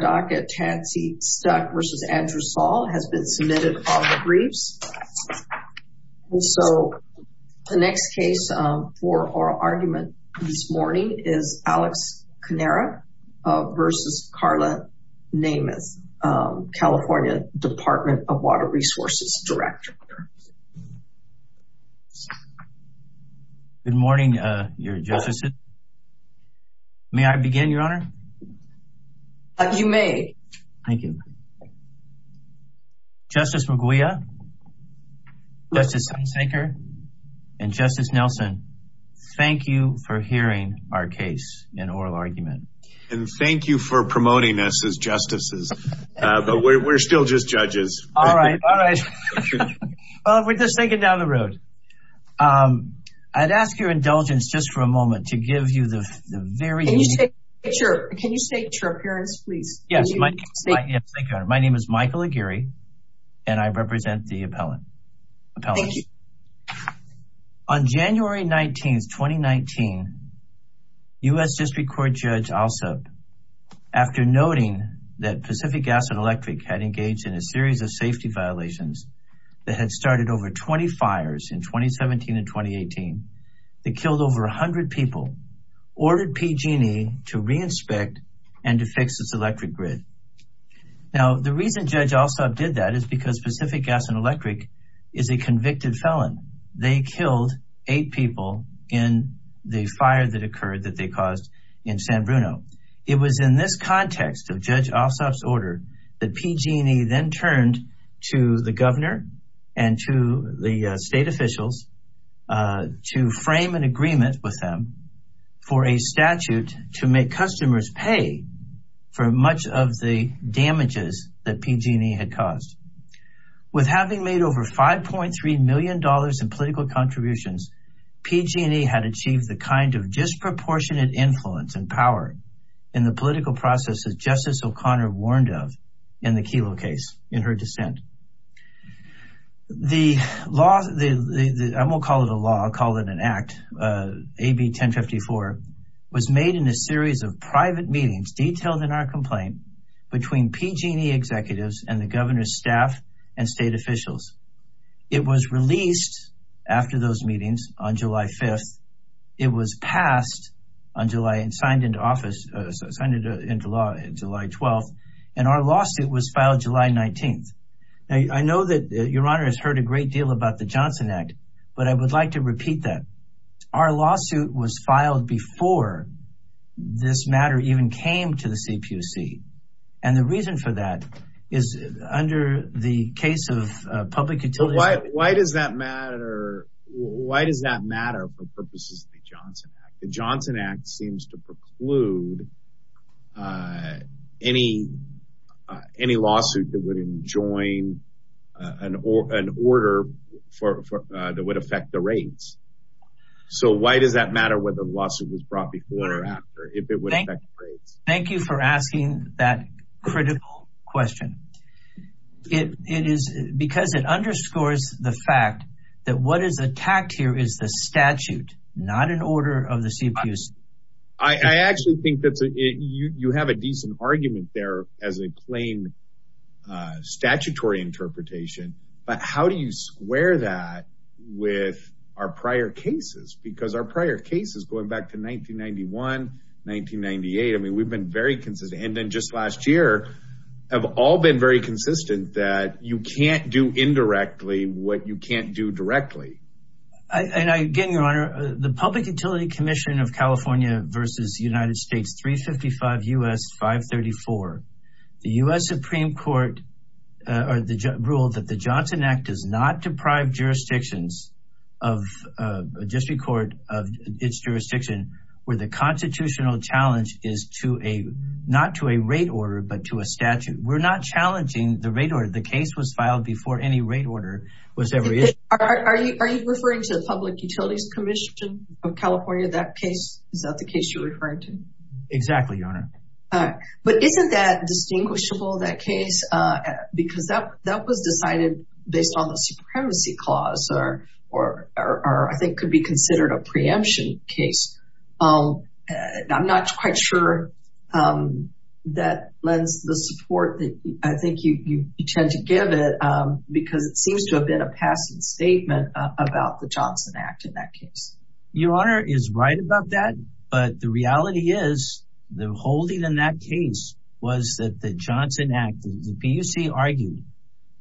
DACA Tansy Stuck v. Andrew Saul has been submitted all the briefs. So the next case for oral argument this morning is Alex Canara v. Karla Nemeth, California Department of Water Resources Director. Good morning, your justice. May I begin, your honor? You may. Thank you. Justice McGuia, Justice Hunsaker, and Justice Nelson, thank you for hearing our case in oral argument. And thank you for promoting us as justices, but we're still just judges. All right. All right. Well, if we're just thinking down the road, I'd ask your indulgence just for a moment to give you the very- Can you state your appearance, please? Yes, my name is Michael Aguirre, and I represent the appellant. On January 19th, 2019, U.S. District Court Judge Alsop, after noting that Pacific Gas and Electric had engaged in a series of safety violations that had started over 20 fires in 2017 and 2018, that killed over a hundred people, ordered PG&E to reinspect and to fix its electric grid. Now, the reason Judge Alsop did that is because Pacific Gas and Electric is a convicted felon. They killed eight people in the fire that occurred that they caused in San Bruno. It was in this context of Judge Alsop's order that PG&E then turned to the Supreme Court to frame an agreement with them for a statute to make customers pay for much of the damages that PG&E had caused. With having made over $5.3 million in political contributions, PG&E had achieved the kind of disproportionate influence and power in the political process that Justice O'Connor warned of in the Kelo case, in her dissent. The law, I won't call it a law, I'll call it an act, AB 1054, was made in a series of private meetings detailed in our complaint between PG&E executives and the governor's staff and state officials. It was released after those meetings on July 5th. It was passed on July and signed into office, signed into law July 12th, and our lawsuit was filed July 19th. Now, I know that Your Honor has heard a great deal about the Johnson Act, but I would like to repeat that. Our lawsuit was filed before this matter even came to the CPUC. And the reason for that is under the case of public utility- Why does that matter? Why does that matter for purposes of the Johnson Act? The Johnson Act seems to preclude any lawsuit that would enjoin an order that would affect the rates. So why does that matter whether the lawsuit was brought before or after, if it would affect rates? Thank you for asking that critical question. It is because it underscores the fact that what is attacked here is the CPUC. I actually think that you have a decent argument there as a plain statutory interpretation, but how do you square that with our prior cases? Because our prior cases going back to 1991, 1998, I mean, we've been very consistent. And then just last year, have all been very consistent that you can't do indirectly what you can't do directly. And again, Your Honor, the Public Utility Commission of California versus United States, 355 U.S. 534. The U.S. Supreme Court ruled that the Johnson Act does not deprive jurisdictions of district court of its jurisdiction where the constitutional challenge is not to a rate order, but to a statute. We're not challenging the rate order. The case was filed before any rate order was ever issued. Are you referring to the Public Utilities Commission of California, that case? Is that the case you're referring to? Exactly, Your Honor. But isn't that distinguishable, that case? Because that was decided based on the supremacy clause, or I think could be considered a preemption case. I'm not quite sure that lends the support that I think you tend to give it because it seems to have been a passing statement about the Johnson Act in that case. Your Honor is right about that. But the reality is the holding in that case was that the Johnson Act, the PUC argued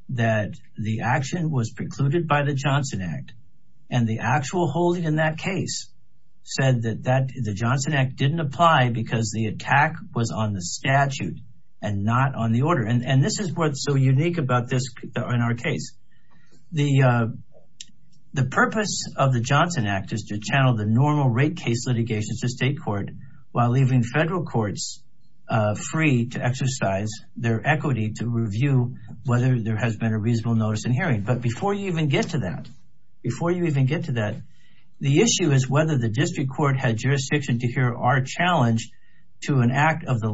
that the action was precluded by the Johnson Act. And the actual holding in that case said that the Johnson Act didn't apply because the attack was on the statute and not on the order. And this is what's so unique about this in our case. The purpose of the Johnson Act is to channel the normal rate case litigation to state court while leaving federal courts free to exercise their equity to review whether there has been a reasonable notice in hearing. But before you even get to that, before you even get to that, the issue is whether the district court had jurisdiction to hear our challenge to an act of the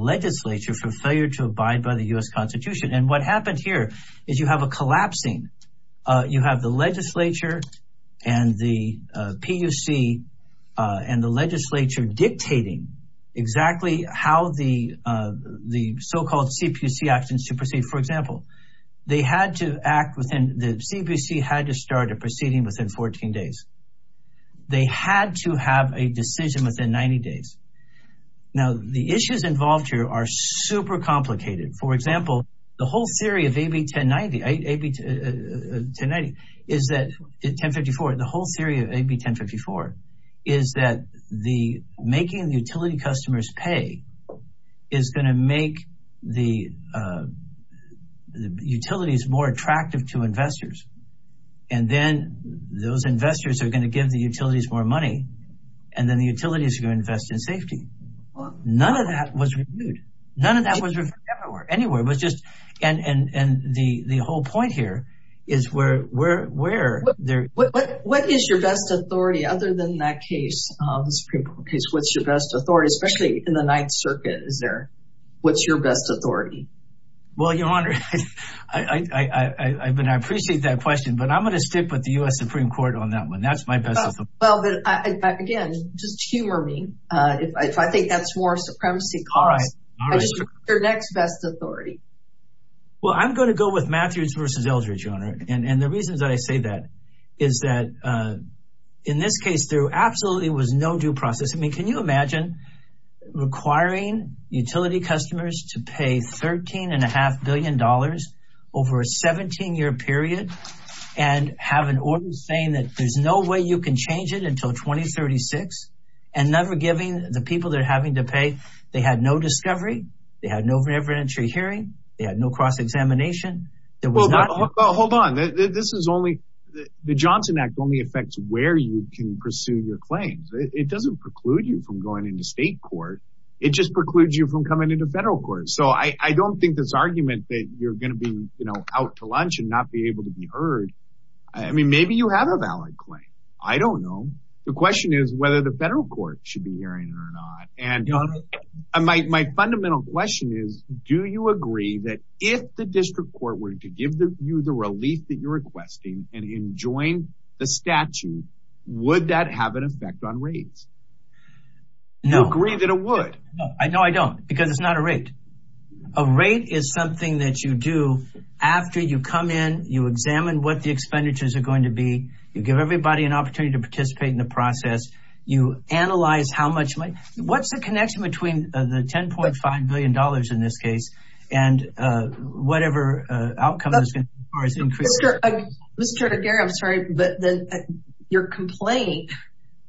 Constitution. And what happened here is you have a collapsing, you have the legislature and the PUC and the legislature dictating exactly how the so-called CPC actions to proceed. For example, they had to act within the CPC had to start a proceeding within 14 days. They had to have a decision within 90 days. Now, the issues involved here are super complicated. For example, the whole theory of AB 1094 is that the making the utility customers pay is going to make the utilities more attractive to investors. And then those investors are going to give the utilities more money. And then the utilities are going to invest in safety. None of that was reviewed. None of that was reviewed anywhere. It was just, and the whole point here is where, what is your best authority other than that case, the Supreme Court case? What's your best authority, especially in the Ninth Circuit? Is there, what's your best authority? Well, Your Honor, I appreciate that question, but I'm going to stick with the U.S. Supreme Court on that one. That's my best authority. Well, but again, just humor me if I think that's more supremacy costs. I just want your next best authority. Well, I'm going to go with Matthews v. Eldridge, Your Honor, and the reasons that I say that is that in this case, there absolutely was no due process. I mean, can you imagine requiring utility customers to pay $13.5 billion over a 17 year period and have an order saying that there's no way you can change it until 2036 and never giving the people that are having to pay, they had no discovery, they had no reverend entry hearing, they had no cross-examination, there was not- Well, hold on. This is only, the Johnson Act only affects where you can pursue your claims. It doesn't preclude you from going into state court. It just precludes you from coming into federal court. So I don't think this argument that you're going to be out to lunch and not be able to be heard, I mean, maybe you have a valid claim. I don't know. The question is whether the federal court should be hearing it or not. And my fundamental question is, do you agree that if the district court were to give you the relief that you're requesting and enjoin the statute, would that have an effect on rates? No. You agree that it would. No, I don't, because it's not a rate. A rate is something that you do after you come in, you examine what the expenditures are going to be, you give everybody an opportunity to participate in the process. You analyze how much money, what's the connection between the $10.5 billion in this case and whatever outcome there is going to be as far as increasing- Mr. DeGarra, I'm sorry, but your complaint,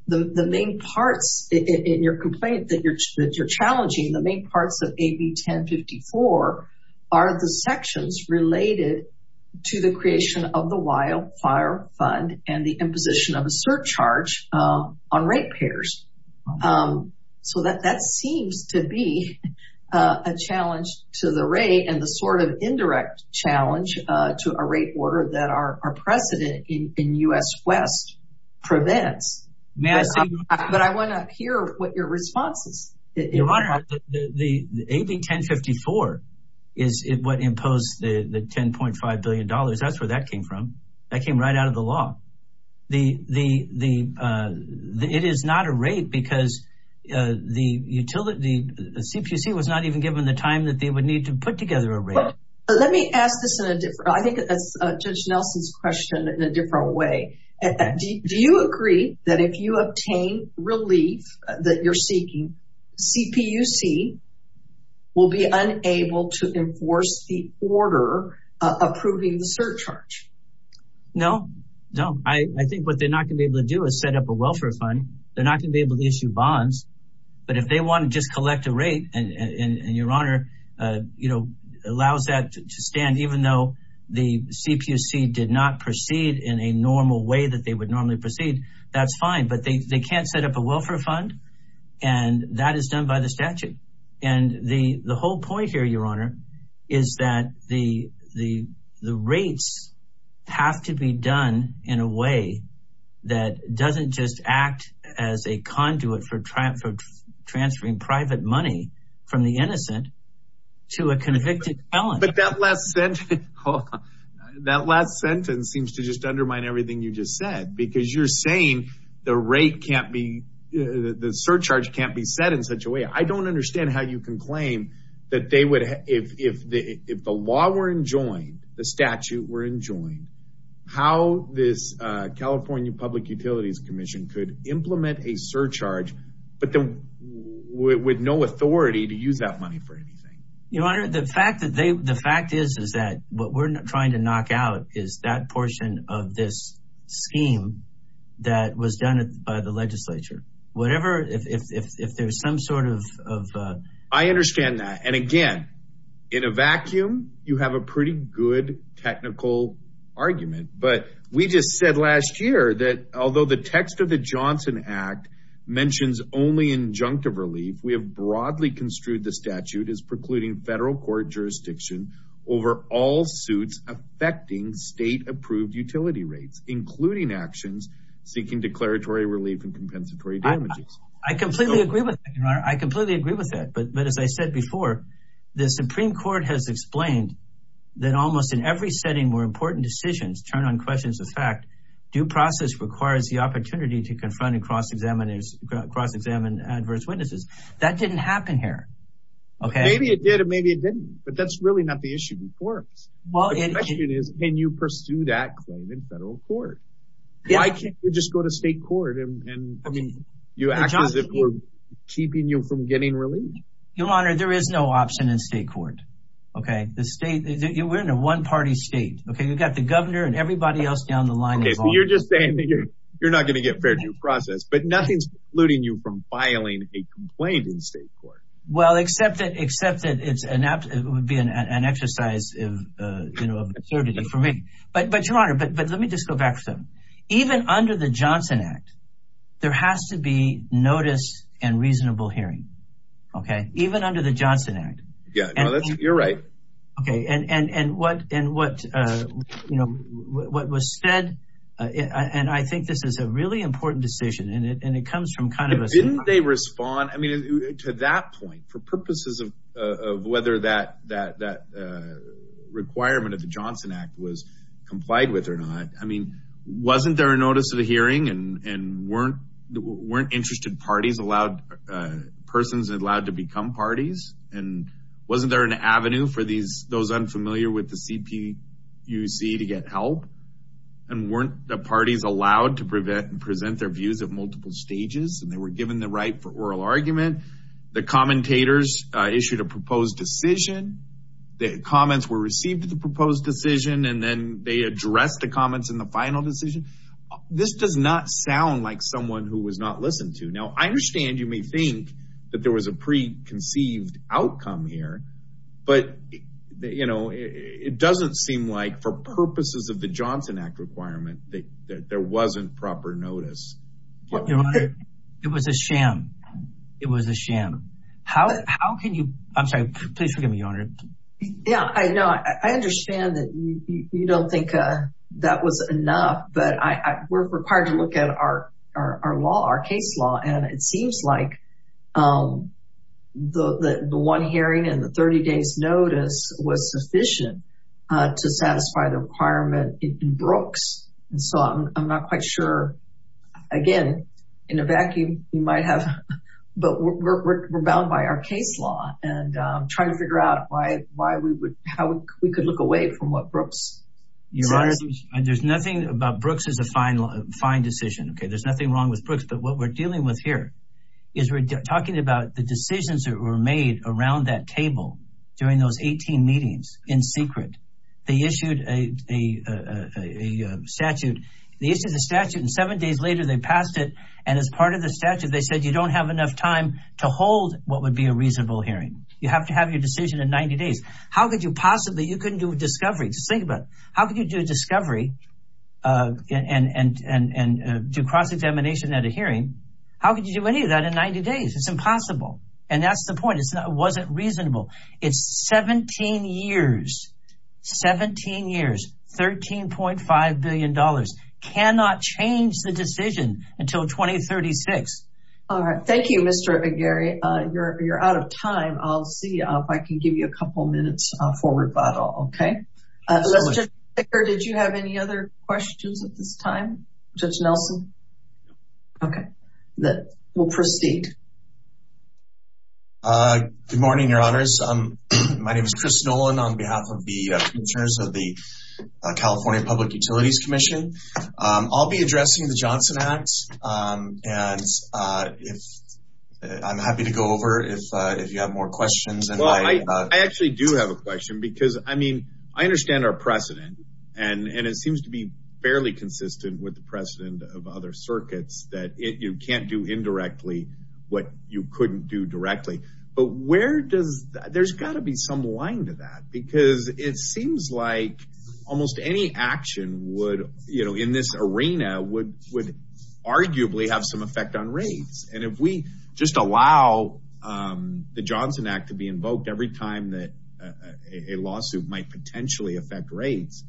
the main parts in your complaint that you're challenging, the main parts of AB 1054 are the sections related to the creation of the wildfire fund and the imposition of a surcharge on rate payers. So that seems to be a challenge to the rate and the sort of indirect challenge to a rate order that our precedent in U.S. West prevents. May I say- But I want to hear what your response is. Your Honor, the AB 1054 is what imposed the $10.5 billion. That's where that came from. That came right out of the law. The, it is not a rate because the utility, the CPUC was not even given the time that they would need to put together a rate. Let me ask this in a different, I think that's Judge Nelson's question in a different way. Do you agree that if you obtain relief that you're seeking, CPUC will be unable to enforce the order approving the surcharge? No, no. I think what they're not going to be able to do is set up a welfare fund. They're not going to be able to issue bonds, but if they want to just collect a rate and your Honor, you know, allows that to stand, even though the CPUC did not proceed in a normal way that they would normally proceed, that's fine. But they can't set up a welfare fund and that is done by the statute. And the whole point here, your Honor, is that the rates have to be done in a way that doesn't just act as a conduit for transferring private money from the innocent to a convicted felon. But that last sentence seems to just undermine everything you just said, because you're saying the rate can't be, the surcharge can't be set in such a way. I don't understand how you can claim that they would, if the law were enjoined, the statute were enjoined, how this California Public Utilities Commission could implement a surcharge, but then with no authority to use that money for anything. Your Honor, the fact that they, the fact is, is that what we're trying to knock out is that portion of this scheme that was done by the legislature. Whatever, if there's some sort of, uh, I understand that. And again, in a vacuum, you have a pretty good technical argument, but we just said last year that although the text of the Johnson Act mentions only injunctive relief, we have broadly construed the statute as precluding federal court jurisdiction over all suits affecting state approved utility rates, including actions seeking declaratory relief and compensatory damages. I completely agree with that, Your Honor. I completely agree with that. But, but as I said before, the Supreme Court has explained that almost in every setting where important decisions turn on questions of fact, due process requires the opportunity to confront and cross-examine adverse witnesses. That didn't happen here. Okay. Maybe it did and maybe it didn't, but that's really not the issue before us. Well, the question is, can you pursue that claim in federal court? Why can't you just go to state court and you act as if we're keeping you from getting relief? Your Honor, there is no option in state court. Okay. The state, we're in a one party state. Okay. You've got the governor and everybody else down the line. Okay. So you're just saying that you're, you're not going to get fair due process, but nothing's polluting you from filing a complaint in state court. Well, except that, except that it's an app, it would be an exercise of, uh, you know, of absurdity for me, but, but Your Honor, but, but let me just go back to even under the Johnson Act, there has to be notice and reasonable hearing. Okay. Even under the Johnson Act. Yeah, you're right. Okay. And, and, and what, and what, uh, you know, what was said, uh, and I think this is a really important decision and it, and it comes from kind of a... Didn't they respond, I mean, to that point for purposes of, uh, of whether that, that, that, uh, requirement of the Johnson Act was complied with or not. I mean, wasn't there a notice of the hearing and, and weren't, weren't interested parties allowed, uh, persons allowed to become parties? And wasn't there an avenue for these, those unfamiliar with the CPUC to get help and weren't the parties allowed to prevent and present their views at multiple stages and they were given the right for oral argument, the commentators issued a proposed decision, the comments were received at the proposed decision, and then they addressed the comments in the final decision. This does not sound like someone who was not listened to. Now, I understand you may think that there was a preconceived outcome here, but you know, it doesn't seem like for purposes of the Johnson Act requirement that there wasn't proper notice. Your Honor, it was a sham. It was a sham. How, how can you, I'm sorry, please forgive me, Your Honor. Yeah, I know. I understand that you don't think that was enough, but I, I, we're required to look at our, our, our law, our case law. And it seems like, um, the, the, the one hearing and the 30 days notice was sufficient, uh, to satisfy the requirement in Brooks. And so I'm, I'm not quite sure. Again, in a vacuum, you might have, but we're, we're, we're bound by our case law and, um, trying to figure out why, why we would, how we could look away from what Brooks says. Your Honor, there's nothing about Brooks as a fine, fine decision. Okay. There's nothing wrong with Brooks, but what we're dealing with here is we're talking about the decisions that were made around that table during those 18 meetings in secret. They issued a, a, a statute. They issued a statute and seven days later, they passed it. And as part of the statute, they said, you don't have enough time to hold what would be a reasonable hearing. You have to have your decision in 90 days. How could you possibly, you couldn't do a discovery. Just think about it. How could you do a discovery, uh, and, and, and, and, uh, do cross-examination at a hearing? How could you do any of that in 90 days? It's impossible. And that's the point. It's not, it wasn't reasonable. It's 17 years, 17 years, $13.5 billion. Cannot change the decision until 2036. All right. Thank you, Mr. McGarry. You're, you're out of time. I'll see if I can give you a couple of minutes for rebuttal. Okay. Let's just, did you have any other questions at this time? Judge Nelson? Okay. Then we'll proceed. Uh, good morning, your honors. Um, my name is Chris Nolan on behalf of the, uh, commissioners of the California Public Utilities Commission. Um, I'll be addressing the Johnson Act. Um, and, uh, if I'm happy to go over if, uh, if you have more questions. And I actually do have a question because I mean, I understand our precedent and, and it seems to be fairly consistent with the precedent of other circuits that it, you can't do indirectly what you couldn't do directly, but where does, there's gotta be some line to that because it seems like almost any action would, you know, in this arena would, would arguably have some effect on rates. And if we just allow, um, the Johnson Act to be invoked every time that, uh, a lawsuit might potentially affect rates,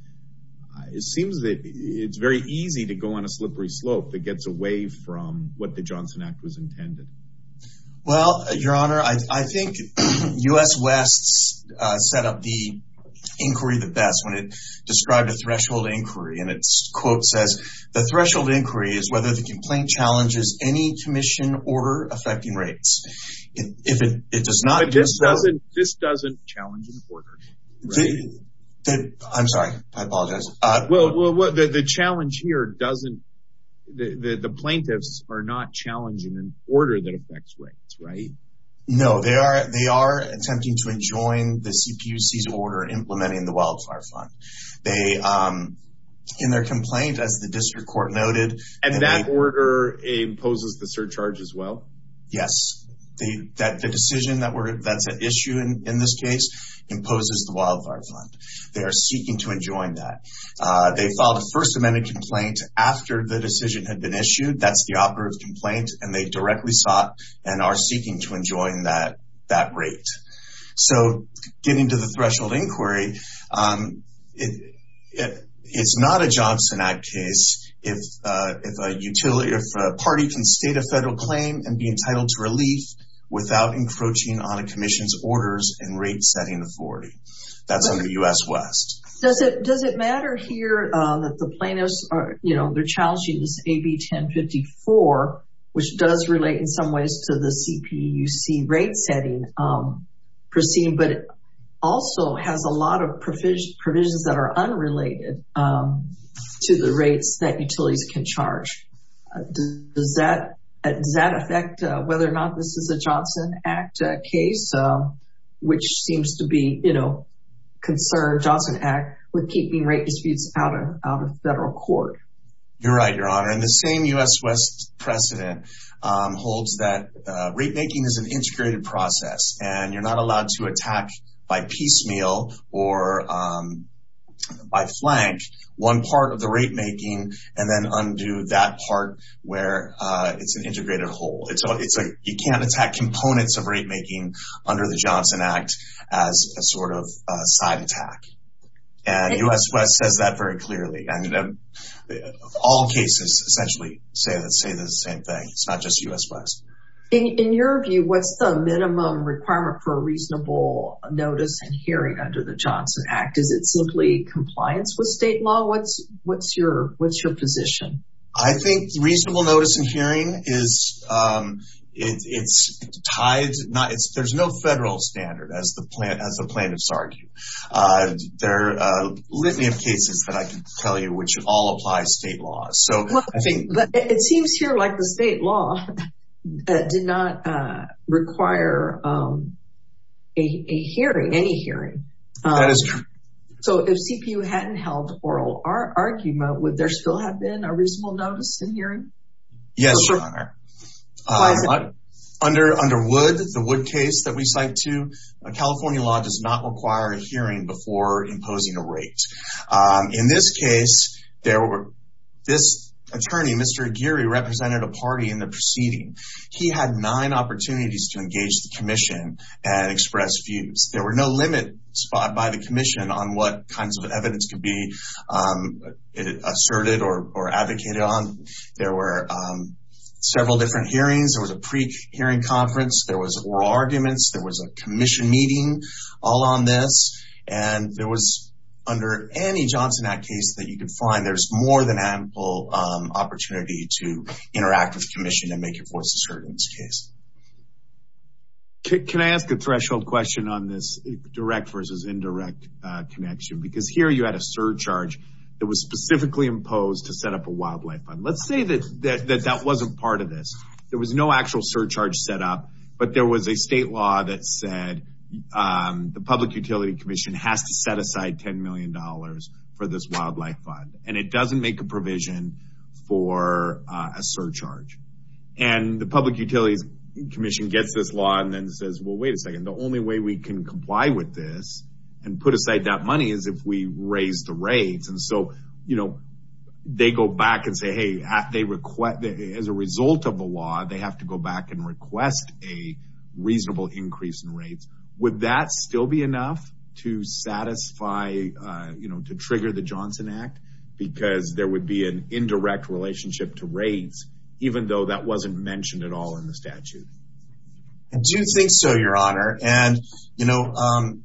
it seems that it's very easy to go on a slippery slope that gets away from what the Johnson Act was intended. Well, your honor, I think U.S. West's, uh, set up the inquiry the best when it described a threshold inquiry. And it's quote says, the threshold inquiry is whether the complaint challenges any commission order affecting rates. If it does not- But this doesn't, this doesn't challenge an order, right? I'm sorry. I apologize. Uh, Well, well, the challenge here doesn't, the, the, the plaintiffs are not challenging an order that affects rates, right? No, they are, they are attempting to enjoin the CPUC's order and implementing the wildfire fund. They, um, in their complaint, as the district court noted- And that order imposes the surcharge as well? Yes. They, that, the decision that were, that's at issue in this case, imposes the wildfire fund. They are seeking to enjoin that. Uh, they filed a first amendment complaint after the decision had been issued. That's the operative complaint. And they directly sought and are seeking to enjoin that, that rate. So getting to the threshold inquiry, um, it, it, it's not a Johnson Act case. If, uh, if a utility, if a party can state a federal claim and be entitled to relief without encroaching on a commission's orders and rate setting authority, that's under U.S. West. Does it, does it matter here that the plaintiffs are, you know, they're challenging this AB 1054, which does relate in some ways to the CPUC rate setting, um, proceeding, but also has a lot of provisions, provisions that are unrelated, um, to the rates that utilities can charge, does that, does that affect whether or not this is a Johnson Act case, uh, which seems to be, you know, concerned Johnson Act with keeping rate disputes out of, out of federal court? You're right, Your Honor. And the same U.S. precedent, um, holds that, uh, rate making is an integrated process and you're not allowed to attack by piecemeal or, um, by flank one part of the rate making and then undo that part where, uh, it's an integrated whole. It's, it's a, you can't attack components of rate making under the Johnson Act as a sort of a side attack. And U.S. West says that very clearly. I mean, all cases essentially say the same thing. It's not just U.S. West. In your view, what's the minimum requirement for a reasonable notice and hearing under the Johnson Act? Is it simply compliance with state law? What's, what's your, what's your position? I think reasonable notice and hearing is, um, it's tied, not, it's, there's no federal standard as the plaintiffs argue. Uh, there are a litany of cases that I can tell you, which all apply state laws. So I think... Well, it seems here like the state law did not, uh, require, um, a hearing, any hearing. That is true. So if CPU hadn't held oral argument, would there still have been a reasonable notice and hearing? Yes, Your Honor. Under, under Wood, the Wood case that we cite too, California law does not require a hearing before imposing a rate. Um, in this case, there were, this attorney, Mr. Aguirre, represented a party in the proceeding. He had nine opportunities to engage the commission and express views. There were no limit spot by the commission on what kinds of evidence could be, um, asserted or, or advocated on. There were, um, several different hearings. There was a pre-hearing conference. There was oral arguments. There was a commission meeting all on this. And there was, under any Johnson Act case that you can find, there's more than ample, um, opportunity to interact with the commission and make your voice heard in this case. Can I ask a threshold question on this direct versus indirect, uh, connection? Because here you had a surcharge that was specifically imposed to set up a wildlife fund. Let's say that, that, that, that wasn't part of this. There was no actual surcharge set up, but there was a state law that said, um, the public utility commission has to set aside $10 million for this wildlife fund. And it doesn't make a provision for a surcharge. And the public utilities commission gets this law and then says, well, wait a second, the only way we can comply with this and put aside that money is if we raise the rates. And so, you know, they go back and say, hey, as a result of the law, they have to go back and request a reasonable increase in rates, would that still be enough to satisfy, uh, you know, to trigger the Johnson Act because there would be an indirect relationship to rates, even though that wasn't mentioned at all in the statute? I do think so, your honor. And, you know, um,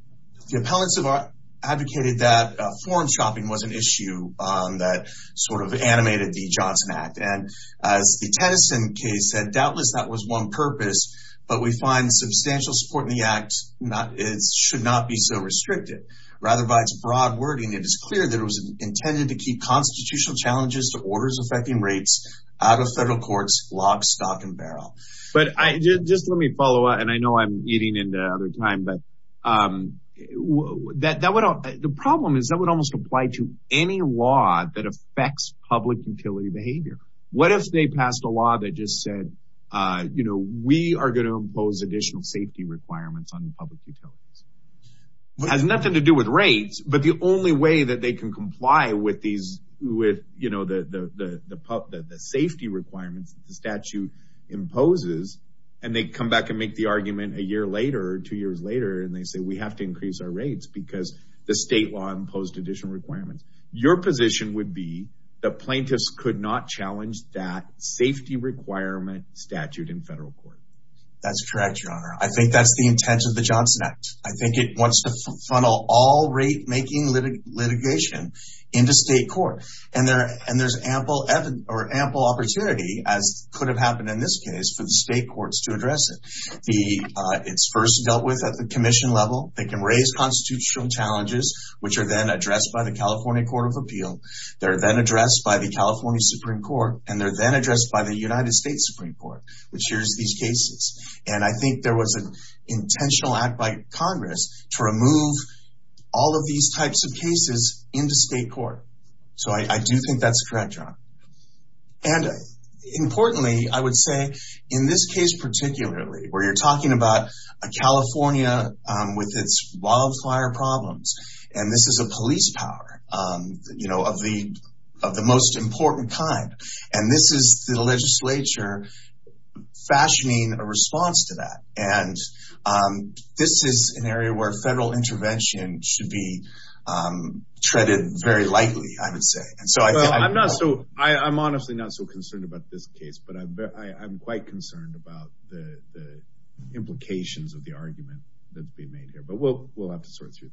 the appellants have advocated that, uh, form shopping was an issue, um, that sort of animated the Johnson Act and as the Tennyson case said, doubtless that was one purpose, but we find substantial support in the act, not, it should not be so restricted rather by its broad wording. It is clear that it was intended to keep constitutional challenges to orders affecting rates out of federal courts, lock, stock and barrel. But I just, let me follow up. And I know I'm eating into other time, but, um, that, that would, the problem is that would almost apply to any law that affects public utility behavior. What if they passed a law that just said, uh, you know, we are going to impose additional safety requirements on public utilities has nothing to do with rates, but the only way that they can comply with these, with, you know, the, the, the safety requirements that the statute imposes and they come back and make the argument a year later, two years later. And they say, we have to increase our rates because the state law imposed additional requirements. Your position would be the plaintiffs could not challenge that safety requirement statute in federal court. That's correct, your honor. I think that's the intent of the Johnson Act. I think it wants to funnel all rate making litigation into state court. And there, and there's ample evidence or ample opportunity as could have happened in this case for the state courts to address it, the, uh, it's first dealt with at the commission level. They can raise constitutional challenges, which are then addressed by the California court of appeal. They're then addressed by the California Supreme court, and they're then addressed by the United States Supreme court, which hears these cases. And I think there was an intentional act by Congress to remove all of these types of cases into state court. So I do think that's correct, your honor. And importantly, I would say in this case, particularly where you're talking about a California with its wildfire problems, and this is a police power, you know, of the most important kind, and this is the legislature fashioning a response to that. And this is an area where federal intervention should be treaded very lightly, I would say. And so I'm not so, I'm honestly not so concerned about this case, but I'm quite concerned about the implications of the argument that's being made here. But we'll, we'll have to sort through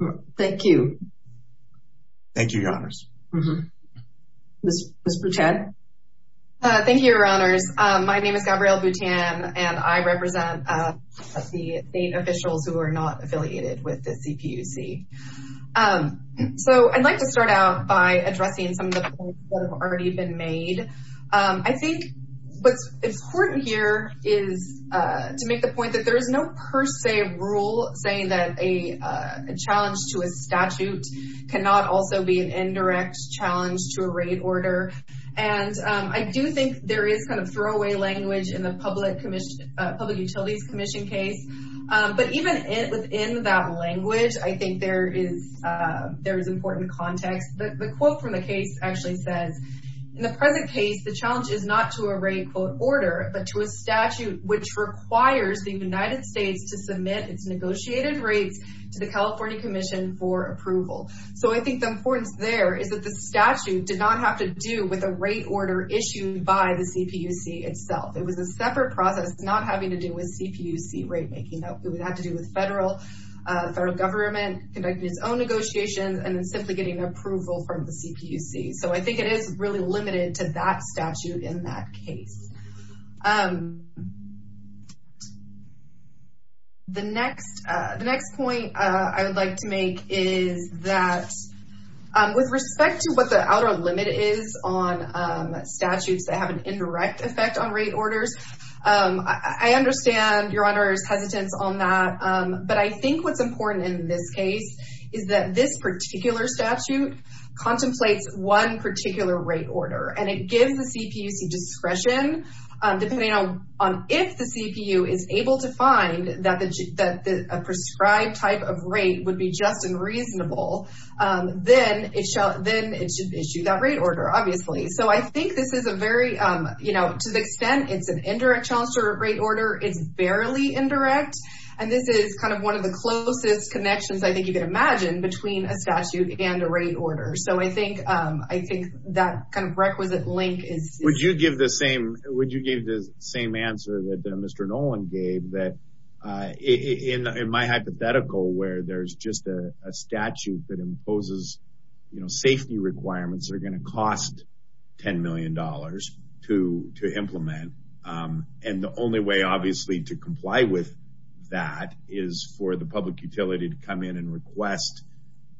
that. Thank you. Thank you, your honors. Ms. Buten. Uh, thank you, your honors. Um, my name is Gabrielle Buten and I represent, uh, the state officials who are not affiliated with the CPUC. Um, so I'd like to start out by addressing some of the points that have already been made. Um, I think what's important here is, uh, to make the point that there is no per se rule saying that a, uh, a challenge to a statute cannot also be an indirect challenge to a rate order. And, um, I do think there is kind of throwaway language in the public commission, uh, public utilities commission case. Um, but even within that language, I think there is, uh, there is important context, but the quote from the case actually says in the present case, the challenge is not to a rate quote order, but to a statute, which requires the United States to submit its negotiated rates to the California commission for approval. So I think the importance there is that the statute did not have to do with a rate order issued by the CPUC itself. It was a separate process, not having to do with CPUC rate making. No, it would have to do with federal, uh, federal government conducting its own negotiations and then simply getting approval from the CPUC. So I think it is really limited to that statute in that case. Um, the next, uh, the next point, uh, I would like to make is that, um, with respect to what the outer limit is on, um, statutes that have an indirect effect on rate orders, um, I understand your honor's hesitance on that. Um, but I think what's important in this case is that this particular statute contemplates one particular rate order and it gives the CPUC discretion, um, depending on, on if the CPU is able to find that the, that the prescribed type of rate would be just and reasonable, um, then it shall, then it should issue that rate order, obviously. So I think this is a very, um, you know, to the extent it's an indirect chance to rate order, it's barely indirect. And this is kind of one of the closest connections I think you could imagine between a statute and a rate order. So I think, um, I think that kind of requisite link is, would you give the same, would you give the same answer that Mr. Nolan gave that, uh, in, in my hypothetical where there's just a statute that imposes, you know, safety requirements are going to cost $10 million to, to implement. Um, and the only way obviously to comply with that is for the public utility to come in and request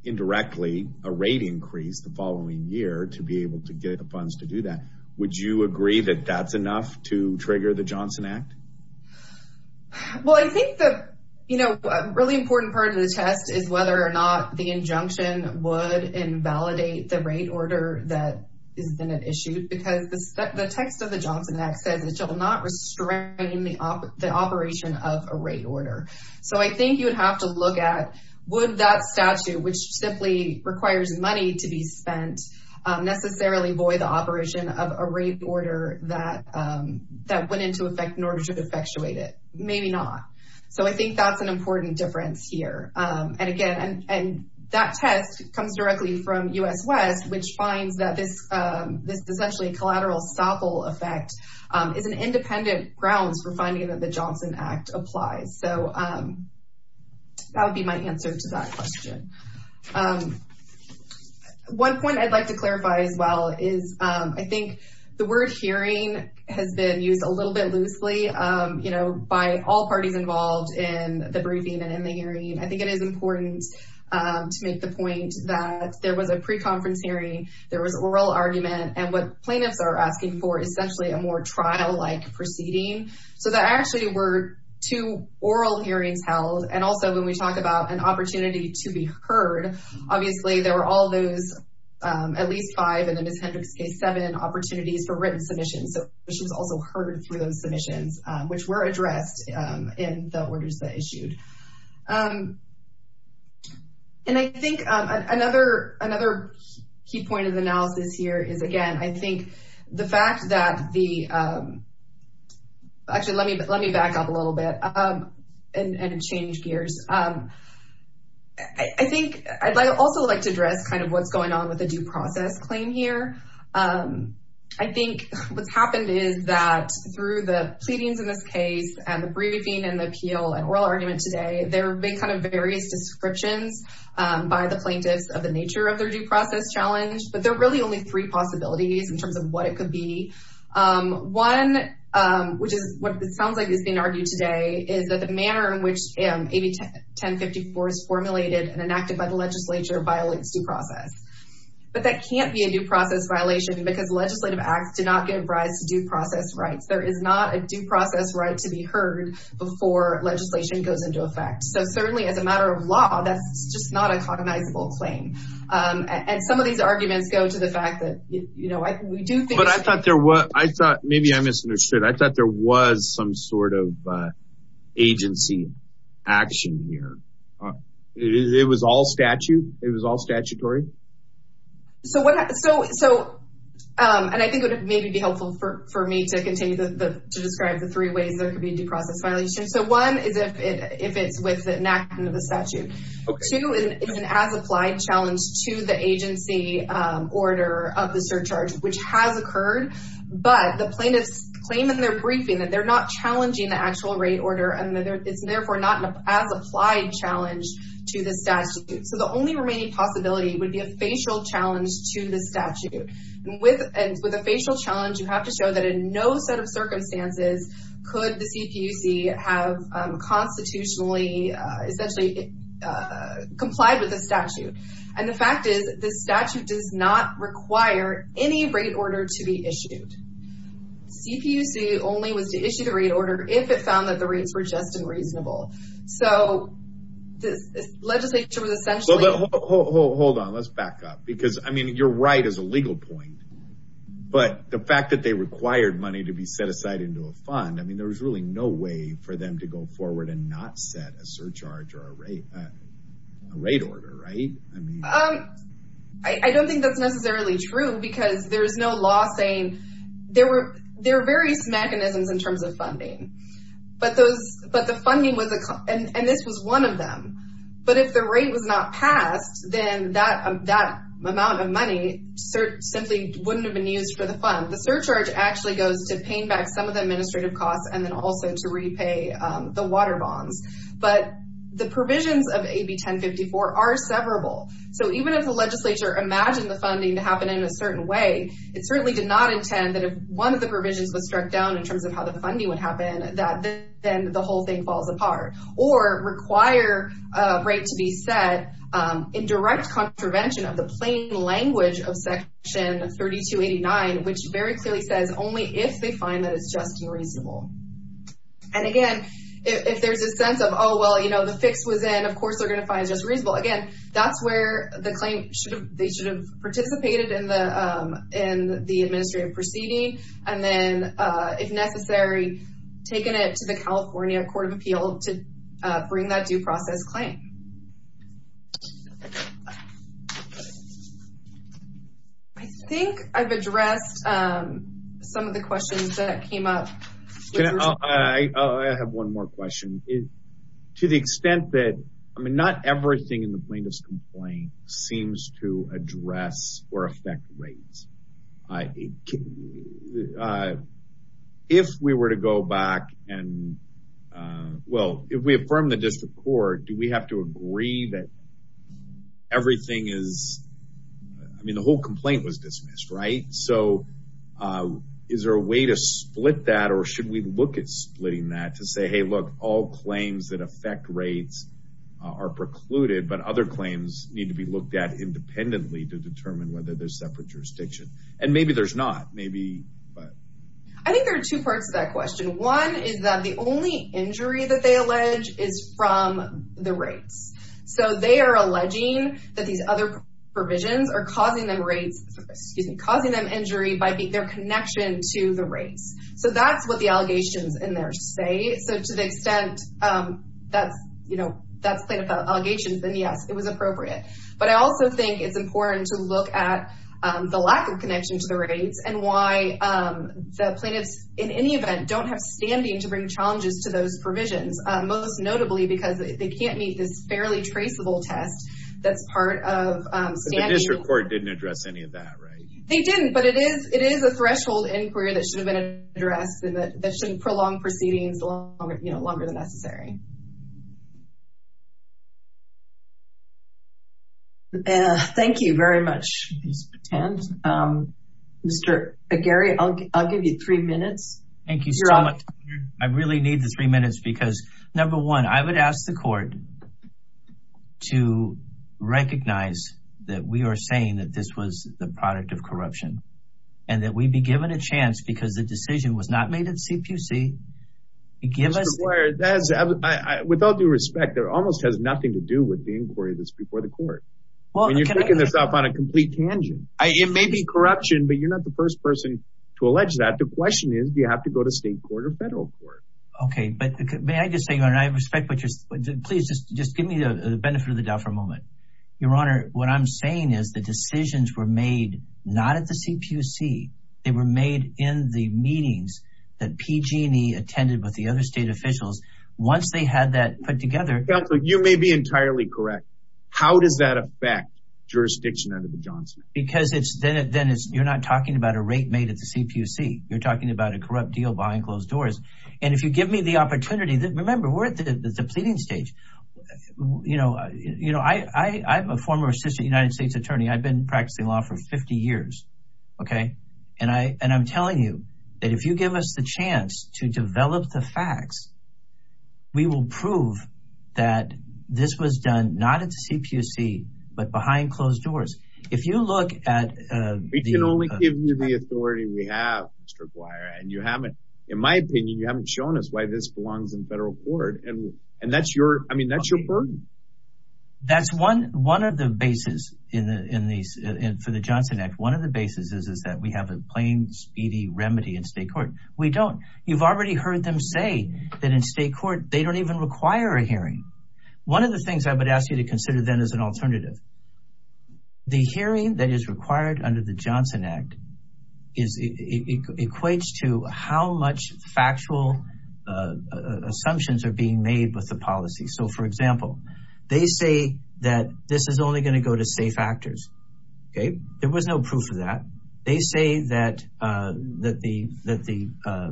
indirectly a rate increase the following year to be able to get the funds to do that. Would you agree that that's enough to trigger the Johnson Act? Well, I think that, you know, a really important part of the test is whether or not the injunction would invalidate the rate order that is been issued because the text of the Johnson Act says it shall not restrain the operation of a rate order. So I think you would have to look at, would that statute, which simply requires money to be spent, necessarily void the operation of a rate order that, um, that went into effect in order to effectuate it? Maybe not. So I think that's an important difference here. Um, and again, and, and that test comes directly from US West, which finds that this, um, this essentially collateral stopple effect, um, is an independent grounds for finding that the Johnson Act applies. So, um, that would be my answer to that question. Um, one point I'd like to clarify as well is, um, I think the word hearing has been used a little bit loosely, um, you know, by all parties involved in the briefing and in the hearing. I think it is important, um, to make the point that there was a pre-conference hearing, there was oral argument and what plaintiffs are asking for essentially a more trial-like proceeding. So there actually were two oral hearings held. And also when we talk about an opportunity to be heard, obviously there were all those, um, at least five in the Ms. Hendricks case, seven opportunities for written submissions. So she was also heard through those submissions, um, which were addressed, um, in the orders that issued. Um, and I think, um, another, another key point of analysis here is again, I think the fact that the, um, actually let me, let me back up a little bit, um, and change gears. Um, I think I'd also like to address kind of what's going on with the due process claim here. Um, I think what's happened is that through the pleadings in this case and the briefing and the appeal and oral argument today, there have been kind of various descriptions, um, by the plaintiffs of the nature of their due process challenge, but there are really only three possibilities in terms of what it could be. Um, one, um, which is what sounds like is being argued today is that the manner in which, um, AB 1054 is formulated and enacted by the legislature violates due process. But that can't be a due process violation because legislative acts do not give rise to due process rights. There is not a due process right to be heard before legislation goes into effect. So certainly as a matter of law, that's just not a cognizable claim. Um, and some of these arguments go to the fact that, you know, we do think But I thought there was, I thought, maybe I misunderstood. I thought there was some sort of, uh, agency action here. It was all statute. It was all statutory. So what, so, so, um, and I think it would maybe be helpful for me to to describe the three ways there could be due process violations. So one is if it, if it's with the enactment of the statute, two is an as-applied challenge to the agency, um, order of the surcharge, which has occurred, but the plaintiffs claim in their briefing that they're not challenging the actual rate order. And it's therefore not an as-applied challenge to the statute. So the only remaining possibility would be a facial challenge to the statute. And with, and with a facial challenge, you have to show that in no set of circumstances could the CPUC have, um, constitutionally, uh, essentially, uh, complied with the statute. And the fact is this statute does not require any rate order to be issued. CPUC only was to issue the rate order if it found that the rates were just unreasonable. So this legislature was essentially Hold on. Let's back up because I mean, you're right as a legal point, but the fact that they required money to be set aside into a fund, I mean, there was really no way for them to go forward and not set a surcharge or a rate, uh, rate order. Right. I mean, um, I don't think that's necessarily true because there's no law saying there were, there are various mechanisms in terms of funding, but those, but the funding was, and this was one of them, but if the rate was not passed, then that, that amount of money simply wouldn't have been used for the fund. The surcharge actually goes to paying back some of the administrative costs and then also to repay, um, the water bonds. But the provisions of AB 1054 are severable. So even if the legislature imagined the funding to happen in a certain way, it certainly did not intend that if one of the provisions was struck down in terms of how the funding would happen, that then the whole thing falls apart or require a rate to be set, um, in direct contravention of the plain language of section 3289, which very clearly says only if they find that it's just unreasonable. And again, if there's a sense of, oh, well, you know, the fix was in, of course, they're going to find it just reasonable. Again, that's where the claim should have, they should have participated in the, um, in the administrative proceeding. And then, uh, if necessary, taken it to the California court of appeal to, uh, bring that due process claim. I think I've addressed, um, some of the questions that came up. Can I, I have one more question. To the extent that, I mean, not everything in the plaintiff's complaint seems to address or affect rates. I, uh, if we were to go back and, uh, well, if we affirm the district court, do we have to agree that everything is, I mean, the whole complaint was dismissed, right? So, uh, is there a way to split that? Or should we look at splitting that to say, Hey, look, all claims that affect rates are precluded, but other claims need to be looked at independently to And maybe there's not, maybe, but. I think there are two parts to that question. One is that the only injury that they allege is from the rates. So, they are alleging that these other provisions are causing them rates, excuse me, causing them injury by being their connection to the rates. So, that's what the allegations in there say. So, to the extent, um, that's, you know, that's plaintiff allegations, then yes, it was appropriate. But I also think it's important to look at, um, the lack of connection to the rates and why, um, the plaintiffs in any event don't have standing to bring challenges to those provisions, uh, most notably because they can't meet this fairly traceable test. That's part of, um. So, the district court didn't address any of that, right? They didn't, but it is, it is a threshold inquiry that should have been addressed and that that shouldn't prolong proceedings longer, you know, longer than necessary. Uh, thank you very much, Mr. Patan. Um, Mr. Aguirre, I'll give you three minutes. Thank you so much. I really need the three minutes because number one, I would ask the court to recognize that we are saying that this was the product of corruption and that we'd be given a chance because the decision was not made at CPC. Mr. Aguirre, that is, without due respect, that almost has nothing to do with the inquiry that's before the court. Well, and you're picking this up on a complete tangent. It may be corruption, but you're not the first person to allege that. The question is, do you have to go to state court or federal court? Okay. But may I just say, and I respect what you're, please just, just give me the benefit of the doubt for a moment. Your Honor, what I'm saying is the decisions were made not at the CPC. They were made in the meetings that PG&E attended with the other state officials. Once they had that put together. You may be entirely correct. How does that affect jurisdiction under the Johnson? Because it's, then it, then it's, you're not talking about a rate made at the CPC. You're talking about a corrupt deal behind closed doors. And if you give me the opportunity that remember we're at the pleading stage, you know, you know, I, I, I'm a former assistant United States attorney. I've been practicing law for 50 years. Okay. And I, and I'm telling you that if you give us the chance to develop the facts, we will prove that this was done, not at the CPC, but behind closed doors. If you look at, uh, We can only give you the authority we have, Mr. Guire. And you haven't, in my opinion, you haven't shown us why this belongs in federal court. And, and that's your, I mean, that's your burden. That's one, one of the basis in the, in the, for the Johnson Act. One of the basis is, is that we have a plain speedy remedy in state court. We don't. You've already heard them say that in state court, they don't even require a hearing. One of the things I would ask you to consider then as an alternative, the hearing that is required under the Johnson Act is, equates to how much factual assumptions are being made with the policy. So for example, they say that this is only going to go to safe actors. Okay. There was no proof of that. They say that, uh, that the, that the, uh,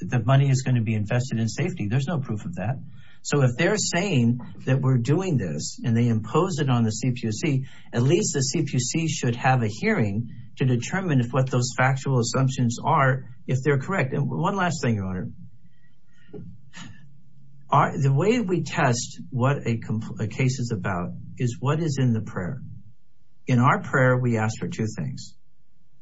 the money is going to be invested in safety. There's no proof of that. So if they're saying that we're doing this and they impose it on the CPC, at least the CPC should have a hearing to determine if what those factual assumptions are, if they're correct. And one last thing, Your Honor. The way we test what a case is about is what is in the prayer. In our prayer, we ask for two things.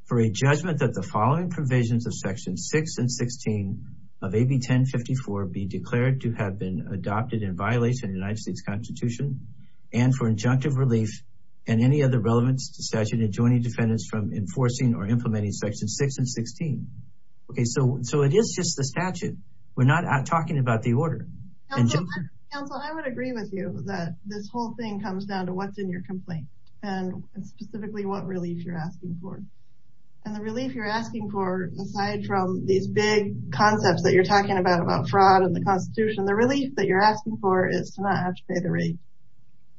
For a judgment that the following provisions of section six and 16 of AB 1054 be declared to have been adopted in violation of the United States constitution and for injunctive relief and any other relevance to statute adjoining defendants from enforcing or implementing section six and 16. Okay. So, so it is just the statute. We're not talking about the order. Counsel, I would agree with you that this whole thing comes down to what's in your complaint and specifically what relief you're asking for. And the relief you're asking for, aside from these big concepts that you're talking about, about fraud and the constitution, the relief that you're asking for is to not have to pay the rate.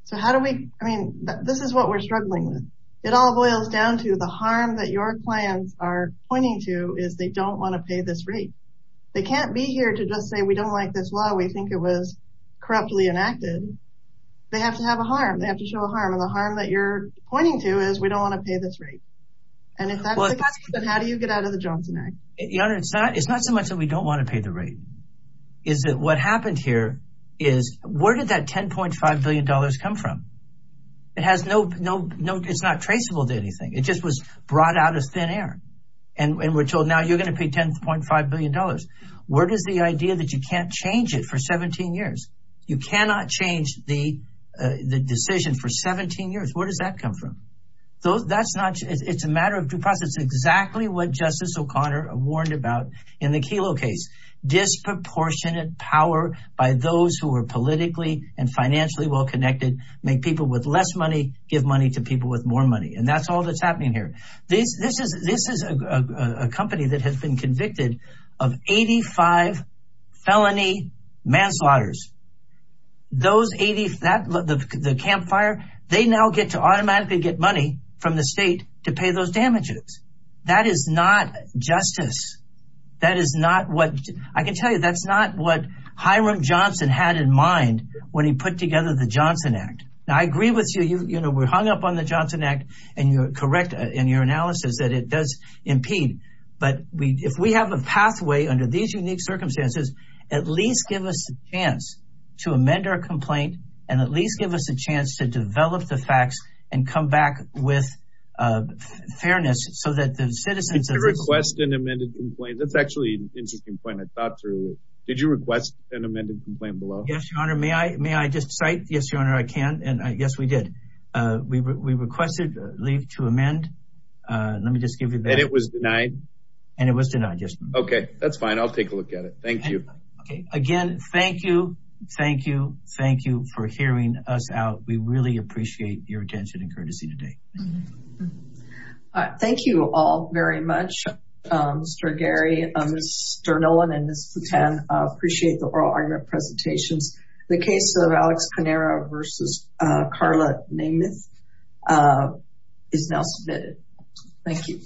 So how do we, I mean, this is what we're struggling with. It all boils down to the harm that your clients are pointing to is they don't want to pay this rate. They can't be here to just say, we don't like this law. We think it was corruptly enacted. They have to have a harm. They have to show a harm. And the harm that you're pointing to is we don't want to pay this rate. And if that's the case, then how do you get out of the job tonight? Your Honor, it's not, it's not so much that we don't want to pay the rate. Is that what happened here is where did that $10.5 billion come from? It has no, no, no, it's not traceable to anything. It just was brought out of thin air. And we're told now you're going to pay $10.5 billion. Where does the idea that you can't change it for 17 years? You cannot change the decision for 17 years. Where does that come from? That's not, it's a matter of due process. Exactly what Justice O'Connor warned about in the Kelo case. Disproportionate power by those who are politically and financially well-connected, make people with less money, give money to people with more money. And that's all that's happening here. This is a company that has been convicted of 85 felony manslaughter. Those 80, the campfire, they now get to automatically get money from the state to pay those damages. That is not justice. That is not what, I can tell you, that's not what Hiram Johnson had in mind when he put together the Johnson Act. Now I agree with you, you know, we're hung up on the Johnson Act and you're correct in your analysis that it does impede. But if we have a pathway under these unique circumstances, at least give us a chance to amend our complaint and at least give us a chance to develop the facts and come back with fairness. So that the citizens... Did you request an amended complaint? That's actually an interesting point. I thought through it. Did you request an amended complaint below? Yes, Your Honor. May I just cite? Yes, Your Honor, I can. And yes, we did. We requested leave to amend. Let me just give you that. And it was denied? And it was denied, yes. Okay, that's fine. I'll take a look at it. Thank you. Okay, again, thank you. Thank you. Thank you for hearing us out. We really appreciate your attention and courtesy today. Thank you all very much, Mr. Gary, Mr. Nolan and Ms. Plutan. I appreciate the oral argument presentations. The case of Alex Panera versus Carla Nameth is now submitted. Thank you.